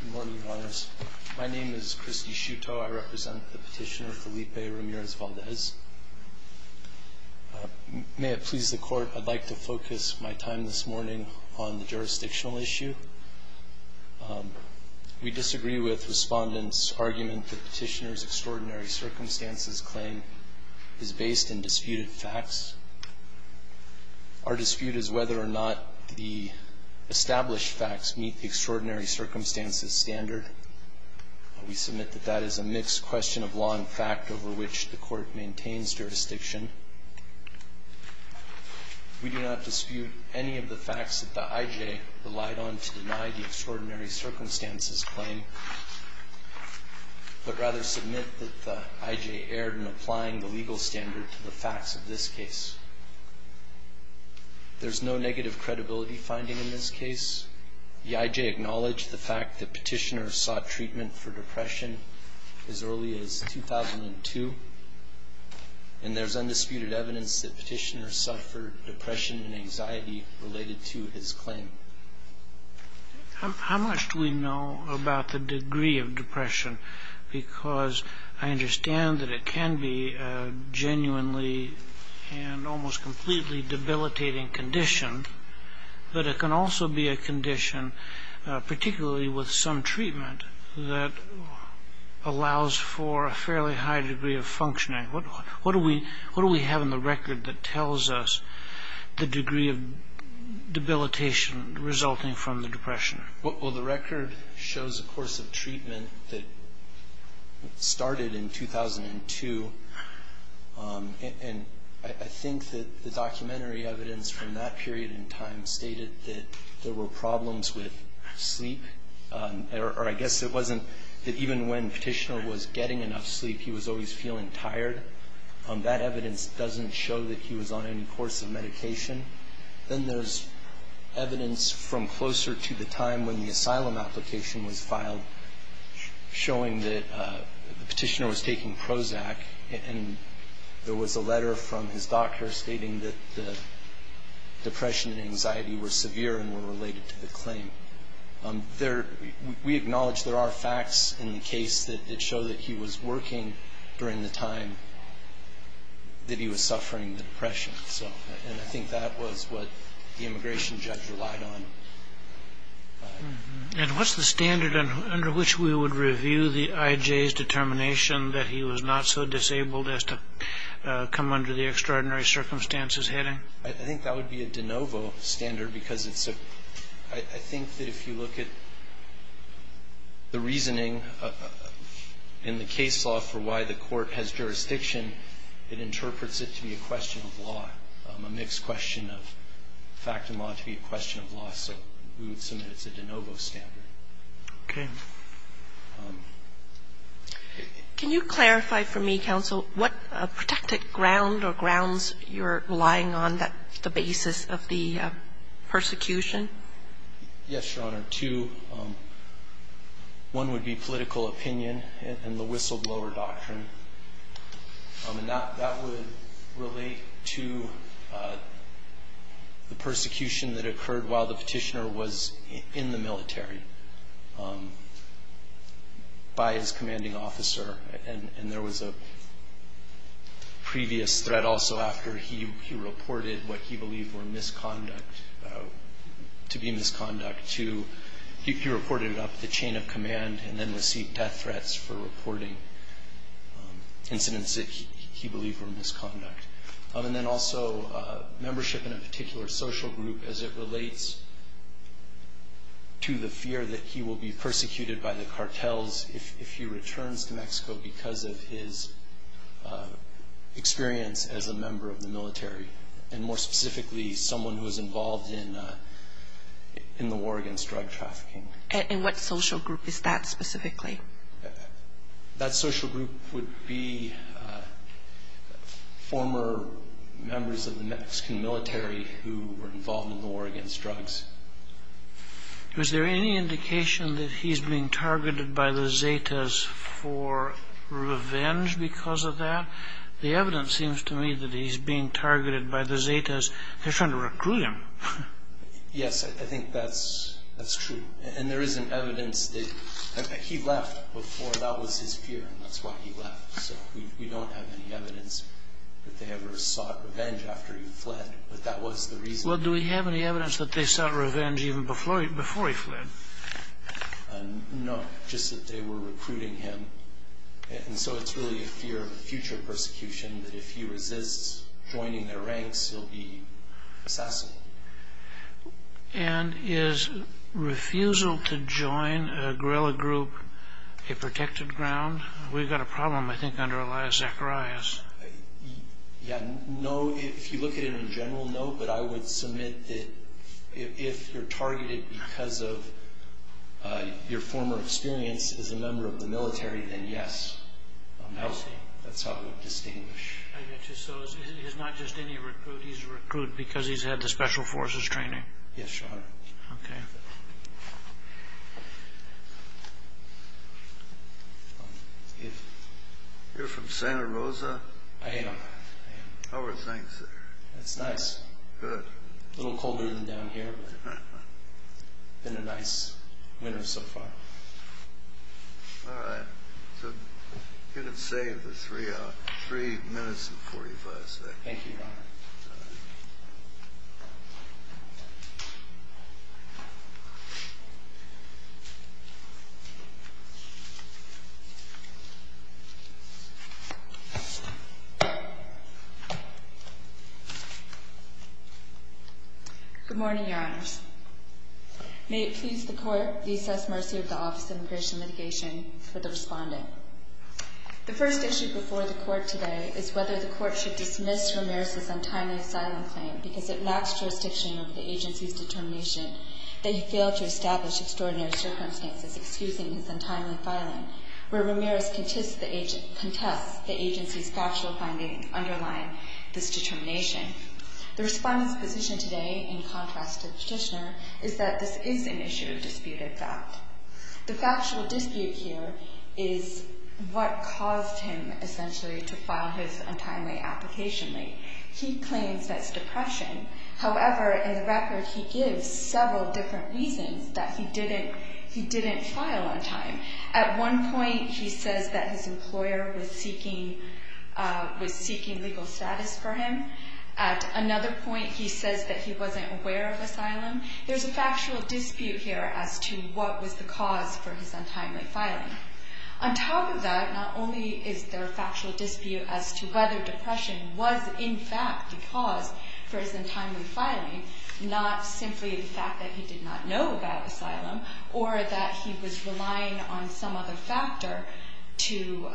Good morning, Your Honors. My name is Christie Shuto. I represent the Petitioner Felipe Ramirez-Valdes. May it please the Court, I'd like to focus my time this morning on the jurisdictional issue. We disagree with Respondent's argument that Petitioner's extraordinary circumstances claim is based in disputed facts. Our dispute is whether or not the established facts meet the extraordinary circumstances standard. We submit that that is a mixed question of law and fact over which the Court maintains jurisdiction. We do not dispute any of the facts that the I.J. relied on to deny the extraordinary circumstances claim, but rather submit that the I.J. erred in applying the legal standard to the facts of this case. There's no negative credibility finding in this case. The I.J. acknowledged the fact that Petitioner sought treatment for depression as early as 2002, and there's undisputed evidence that Petitioner suffered depression and anxiety related to his claim. How much do we know about the degree of depression? Because I understand that it can be a genuinely and almost completely debilitating condition, but it can also be a condition, particularly with some treatment, that allows for a fairly high degree of functioning. What do we have in the record that tells us the degree of debilitation resulting from the depression? Well, the record shows a course of treatment that started in 2002, and I think that the documentary evidence from that period in time stated that there were problems with sleep, or I guess it wasn't that even when Petitioner was getting enough sleep, he was always feeling tired. That evidence doesn't show that he was on any course of medication. Then there's evidence from closer to the time when the asylum application was filed showing that Petitioner was taking Prozac, and there was a letter from his doctor stating that the depression and anxiety were severe and were related to the claim. We acknowledge there are facts in the case that show that he was working during the time that he was suffering the depression, and I think that was what the immigration judge relied on. And what's the standard under which we would review the IJ's determination that he was not so disabled as to come under the extraordinary circumstances heading? I think that would be a de novo standard because it's a – I think that if you look at the reasoning in the case law for why the court has jurisdiction, it interprets it to be a question of law, a mixed question of fact and law to be a question of law, so we would submit it's a de novo standard. Okay. Thank you. Can you clarify for me, counsel, what protected ground or grounds you're relying on that's the basis of the persecution? Yes, Your Honor. Two, one would be political opinion and the whistleblower doctrine, and that would relate to the persecution that occurred while the Petitioner was in the military. By his commanding officer, and there was a previous threat also after he reported what he believed were misconduct, to be misconduct to – he reported it up the chain of command and then received death threats for reporting incidents that he believed were misconduct. And then also membership in a particular social group as it relates to the fear that he will be persecuted by the cartels if he returns to Mexico because of his experience as a member of the military, and more specifically someone who was involved in the war against drug trafficking. And what social group is that specifically? That social group would be former members of the Mexican military who were involved in the war against drugs. Was there any indication that he's being targeted by the Zetas for revenge because of that? The evidence seems to me that he's being targeted by the Zetas. They're trying to recruit him. Yes, I think that's true. And there is an evidence that he left before. That was his fear, and that's why he left. So we don't have any evidence that they ever sought revenge after he fled, but that was the reason. Well, do we have any evidence that they sought revenge even before he fled? No, just that they were recruiting him. And so it's really a fear of future persecution that if he resists joining their ranks, he'll be assassinated. And is refusal to join a guerrilla group a protected ground? We've got a problem, I think, under Elias Zacharias. No, if you look at it in general, no. But I would submit that if you're targeted because of your former experience as a member of the military, then yes. That's how I would distinguish. So it's not just any recruit, he's a recruit because he's had the Special Forces training? Yes, sir. Okay. You're from Santa Rosa? I am. How are things there? It's nice. Good. A little colder than down here, but it's been a nice winter so far. All right. So I'm going to save the three minutes and 45 seconds. Thank you, Your Honor. All right. Good morning, Your Honors. May it please the Court, the assessed mercy of the Office of Immigration Mitigation, for the respondent. The first issue before the Court today is whether the Court should dismiss Ramirez's untimely asylum claim because it lacks jurisdiction over the agency's determination that he failed to establish extraordinary circumstances excusing his untimely filing, where Ramirez contests the agency's factual finding underlying this determination. The respondent's position today, in contrast to the petitioner, is that this is an issue of disputed fact. The factual dispute here is what caused him, essentially, to file his untimely application late. He claims that's depression. However, in the record, he gives several different reasons that he didn't file on time. At one point, he says that his employer was seeking legal status for him. At another point, he says that he wasn't aware of asylum. There's a factual dispute here as to what was the cause for his untimely filing. On top of that, not only is there a factual dispute as to whether depression was, in fact, the cause for his untimely filing, not simply the fact that he did not know about asylum or that he was relying on some other factor to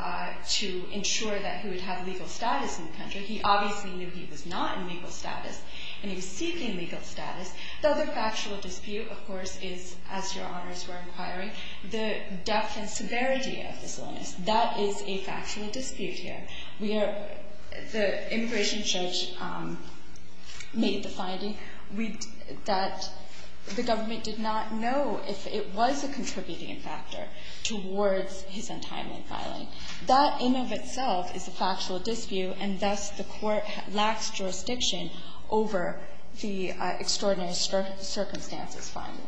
ensure that he would have legal status in the country. He obviously knew he was not in legal status, and he was seeking legal status. The other factual dispute, of course, is, as Your Honors were inquiring, the depth and severity of this illness. That is a factual dispute here. The immigration judge made the finding that the government did not know if it was a contributing factor towards his untimely filing. That in and of itself is a factual dispute, and thus the Court lacks jurisdiction over the extraordinary circumstances finding.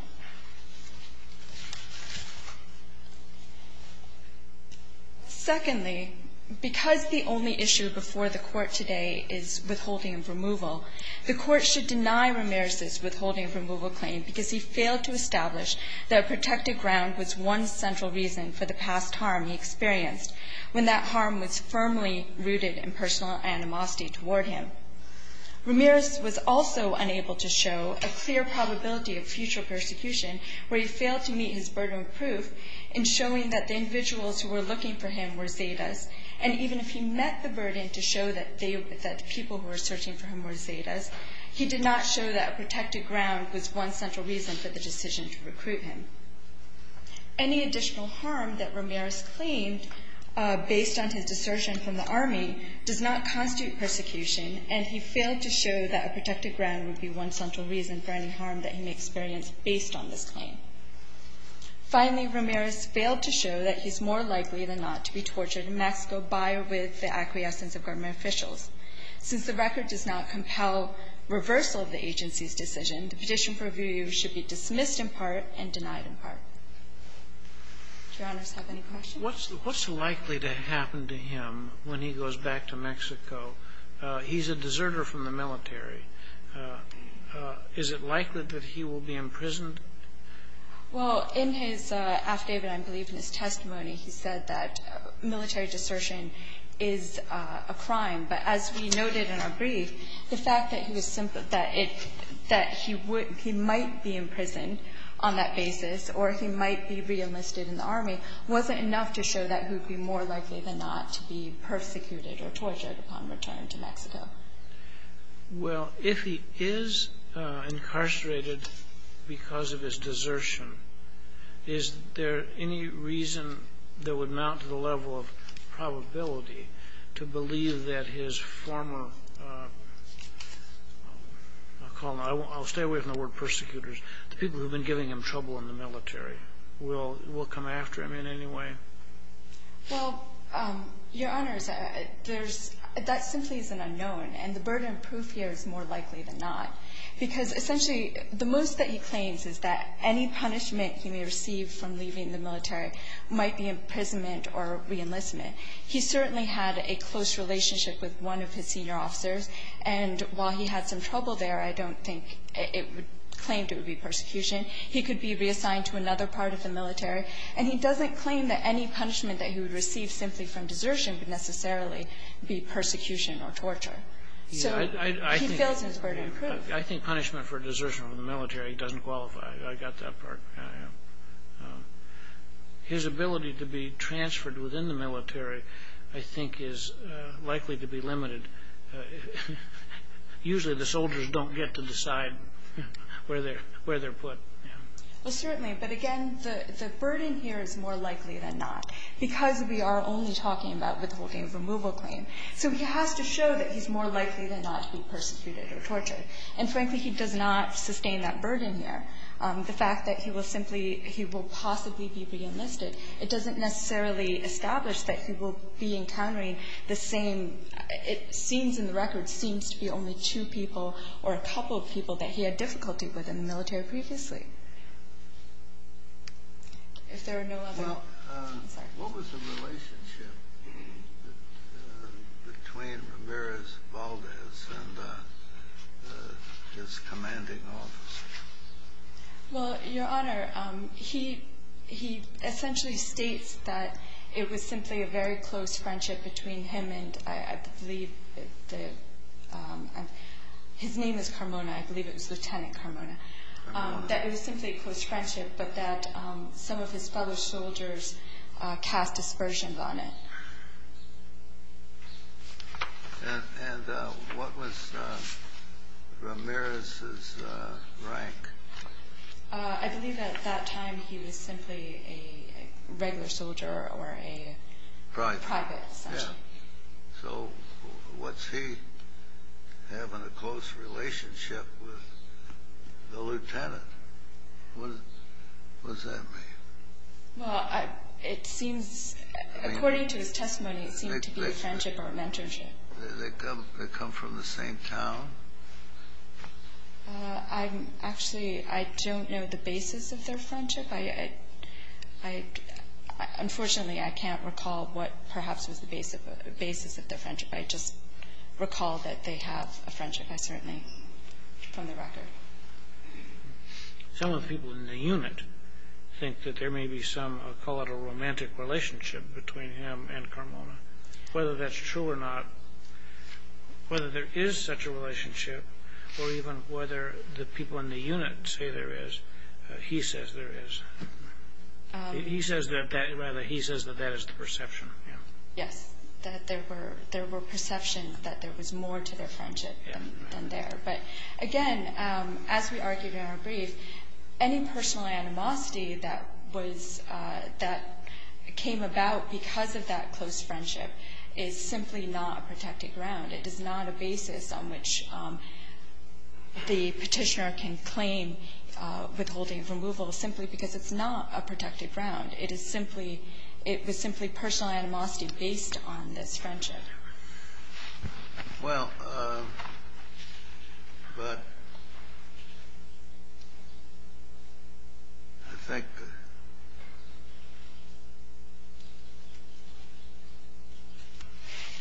Secondly, because the only issue before the Court today is withholding of removal, the Court should deny Ramirez's withholding of removal claim because he failed to establish that a protected ground was one central reason for the past harm he experienced when that harm was firmly rooted in personal animosity toward him. Ramirez was also unable to show a clear probability of future persecution, where he failed to meet his burden of proof in showing that the individuals who were looking for him were Zetas, and even if he met the burden to show that the people who were searching for him were Zetas, he did not show that a protected ground was one central reason for the decision to recruit him. Any additional harm that Ramirez claimed based on his desertion from the Army does not constitute persecution, and he failed to show that a protected ground would be one central reason for any harm that he may experience based on this claim. Finally, Ramirez failed to show that he's more likely than not to be tortured in Mexico by or with the acquiescence of government officials. Since the record does not compel reversal of the agency's decision, the petition purview should be dismissed in part and denied in part. Do Your Honors have any questions? Sotomayor, what's likely to happen to him when he goes back to Mexico? He's a deserter from the military. Is it likely that he will be imprisoned? Well, in his affidavit, I believe in his testimony, he said that military desertion is a crime, but as we noted in our brief, the fact that he might be imprisoned on that basis or he might be reenlisted in the Army wasn't enough to show that he would be more likely than not to be persecuted or tortured upon return to Mexico. Well, if he is incarcerated because of his desertion, is there any reason that would mount to the level of probability to believe that his former, I'll stay away from the word persecutors, the people who have been giving him trouble in the military will come after him in any way? Well, Your Honors, there's – that simply is an unknown, and the burden of proof here is more likely than not, because essentially the most that he claims is that any punishment he may receive from leaving the military might be imprisonment or reenlistment. He certainly had a close relationship with one of his senior officers, and while he had some trouble there, I don't think it would claim to be persecution. He could be reassigned to another part of the military, and he doesn't claim that any punishment that he would receive simply from desertion would necessarily be persecution or torture. So he feels his burden of proof. I think punishment for desertion from the military doesn't qualify. I got that part. His ability to be transferred within the military, I think, is likely to be limited. Usually the soldiers don't get to decide where they're put. Well, certainly, but again, the burden here is more likely than not, because we are only talking about withholding a removal claim. So he has to show that he's more likely than not to be persecuted or tortured. And frankly, he does not sustain that burden here. The fact that he will possibly be reenlisted, it doesn't necessarily establish that he will be encountering the same, it seems in the record, seems to be only two people or a couple of people that he had difficulty with in the military previously. If there are no other... Well, Your Honor, he essentially states that it was simply a very close friendship between him and, I believe, his name is Carmona. I believe it was Lieutenant Carmona. That it was simply a close friendship, but that some of his fellow soldiers cast aspersions on it. And what was Ramirez's rank? I believe at that time he was simply a regular soldier or a private, essentially. So was he having a close relationship with the lieutenant? What does that mean? Well, it seems, according to his testimony, it seemed to be a friendship or a mentorship. They come from the same town? Actually, I don't know the basis of their friendship. Unfortunately, I can't recall what perhaps was the basis of their friendship. I just recall that they have a friendship, I certainly, from the record. Some of the people in the unit think that there may be some, I'll call it a romantic relationship between him and Carmona. Whether that's true or not, whether there is such a relationship or even whether the people in the unit say there is, he says there is. He says that that is the perception. Yes, that there were perceptions that there was more to their friendship than there. But, again, as we argued in our brief, any personal animosity that was, that came about because of that close friendship is simply not a protected ground. It is not a basis on which the Petitioner can claim withholding of removal simply because it's not a protected ground. It is simply, it was simply personal animosity based on this friendship. Well, but, I think,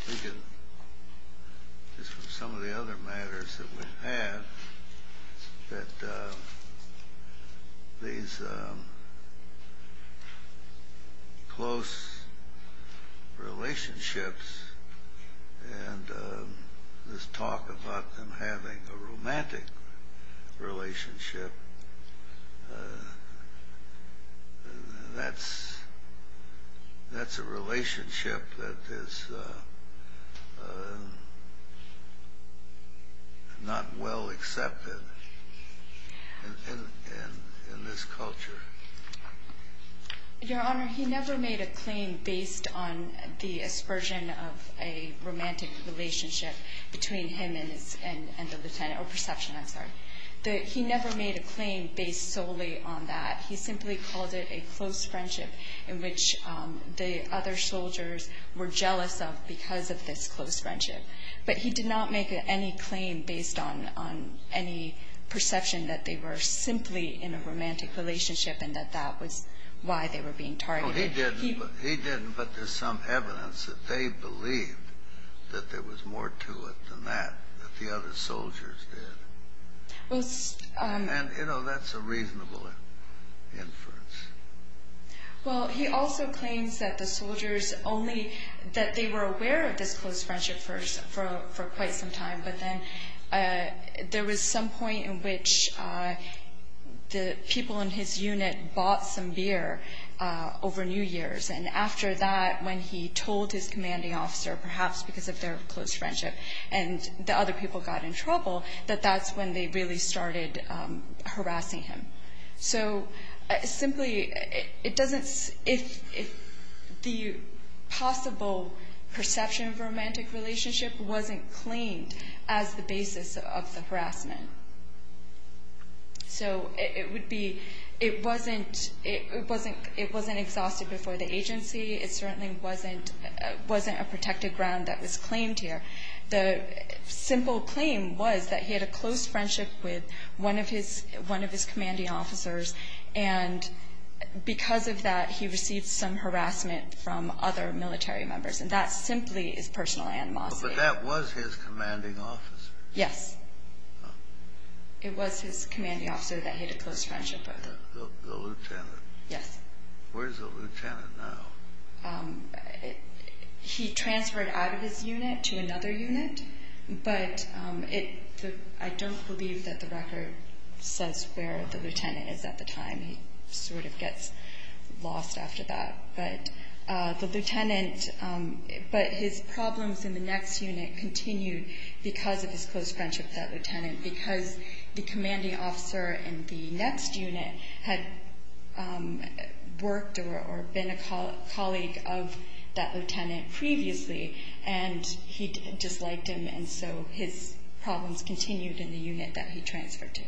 I think it's from some of the other matters that we've had that these close relationships and this talk about them having a romantic relationship, that's a relationship that is not well accepted in this culture. Your Honor, he never made a claim based on the aspersion of a romantic relationship between him and the lieutenant, or perception, I'm sorry. He never made a claim based solely on that. He simply called it a close friendship in which the other soldiers were jealous of because of this close friendship. But he did not make any claim based on any perception that they were simply in a romantic relationship and that that was why they were being targeted. He didn't, but there's some evidence that they believed that there was more to it than that, that the other soldiers did. And, you know, that's a reasonable inference. Well, he also claims that the soldiers only, that they were aware of this close friendship for quite some time, but then there was some point in which the people in his unit bought some beer over New Year's, and after that, when he told his commanding officer, perhaps because of their close friendship and the other people got in trouble, that that's when they really started harassing him. So simply, it doesn't, if the possible perception of a romantic relationship So it would be, it wasn't exhausted before the agency. It certainly wasn't a protected ground that was claimed here. The simple claim was that he had a close friendship with one of his commanding officers, and because of that, he received some harassment from other military members, and that simply is personal animosity. But that was his commanding officer. Yes. It was his commanding officer that he had a close friendship with. The lieutenant. Yes. Where's the lieutenant now? He transferred out of his unit to another unit, but I don't believe that the record says where the lieutenant is at the time. He sort of gets lost after that. But the lieutenant, but his problems in the next unit continued because of his close friendship with that lieutenant, because the commanding officer in the next unit had worked or been a colleague of that lieutenant previously, and he disliked him, and so his problems continued in the unit that he transferred to.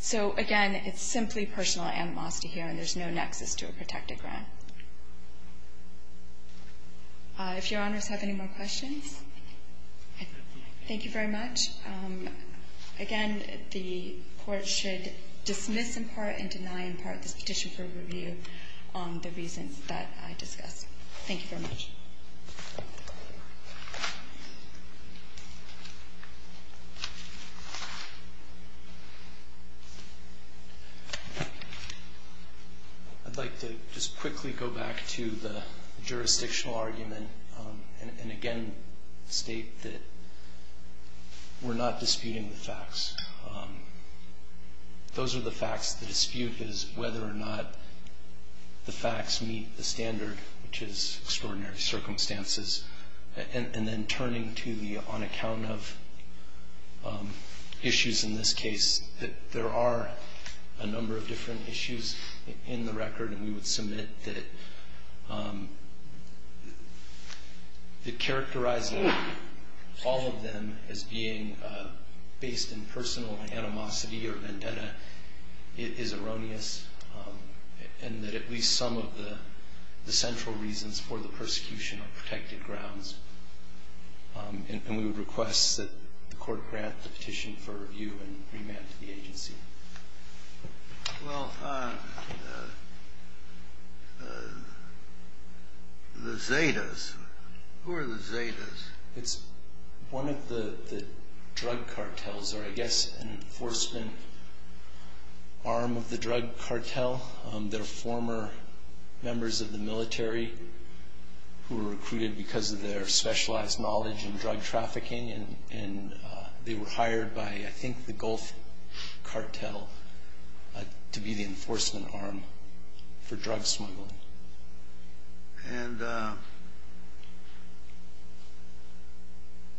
So, again, it's simply personal animosity here, and there's no nexus to a protected ground. If Your Honors have any more questions, thank you very much. Again, the Court should dismiss in part and deny in part this petition for review on the reasons that I discussed. Thank you very much. I'd like to just quickly go back to the jurisdictional argument and again state that we're not disputing the facts. Those are the facts. The dispute is whether or not the facts meet the standard, which is extraordinary circumstances. And then turning to the on account of issues in this case, there are a number of different issues in the record, and we would submit that characterizing all of them as being based in personal animosity or vendetta is erroneous, and that at least some of the central reasons for the persecution are protected grounds. And we would request that the Court grant the petition for review and remand to the agency. Well, the Zetas, who are the Zetas? It's one of the drug cartels, or I guess an enforcement arm of the drug cartel. They're former members of the military who were recruited because of their specialized knowledge in drug trafficking, and they were hired by, I think, the Gulf cartel to be the enforcement arm for drug smuggling. And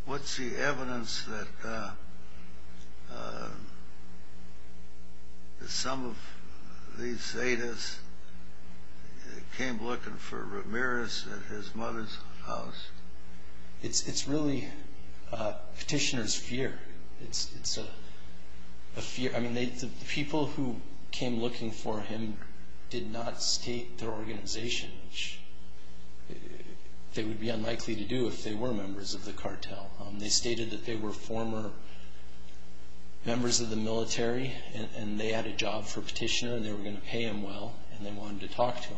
what's the evidence that some of these Zetas came looking for Ramirez at his mother's house? It's really petitioner's fear. It's a fear. I mean, the people who came looking for him did not state their organization, which they would be unlikely to do if they were members of the cartel. They stated that they were former members of the military, and they had a job for a petitioner, and they were going to pay him well, and they wanted to talk to him.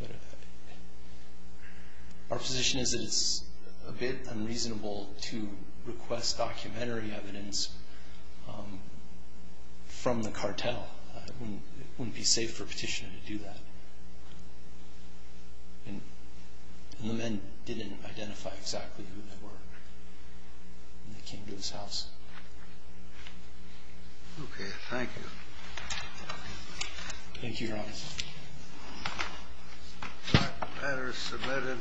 But our position is that it's a bit unreasonable to request documentary evidence from the cartel. It wouldn't be safe for a petitioner to do that. And the men didn't identify exactly who they were when they came to his house. Okay. Thank you. Thank you, Your Honor. That matter is submitted.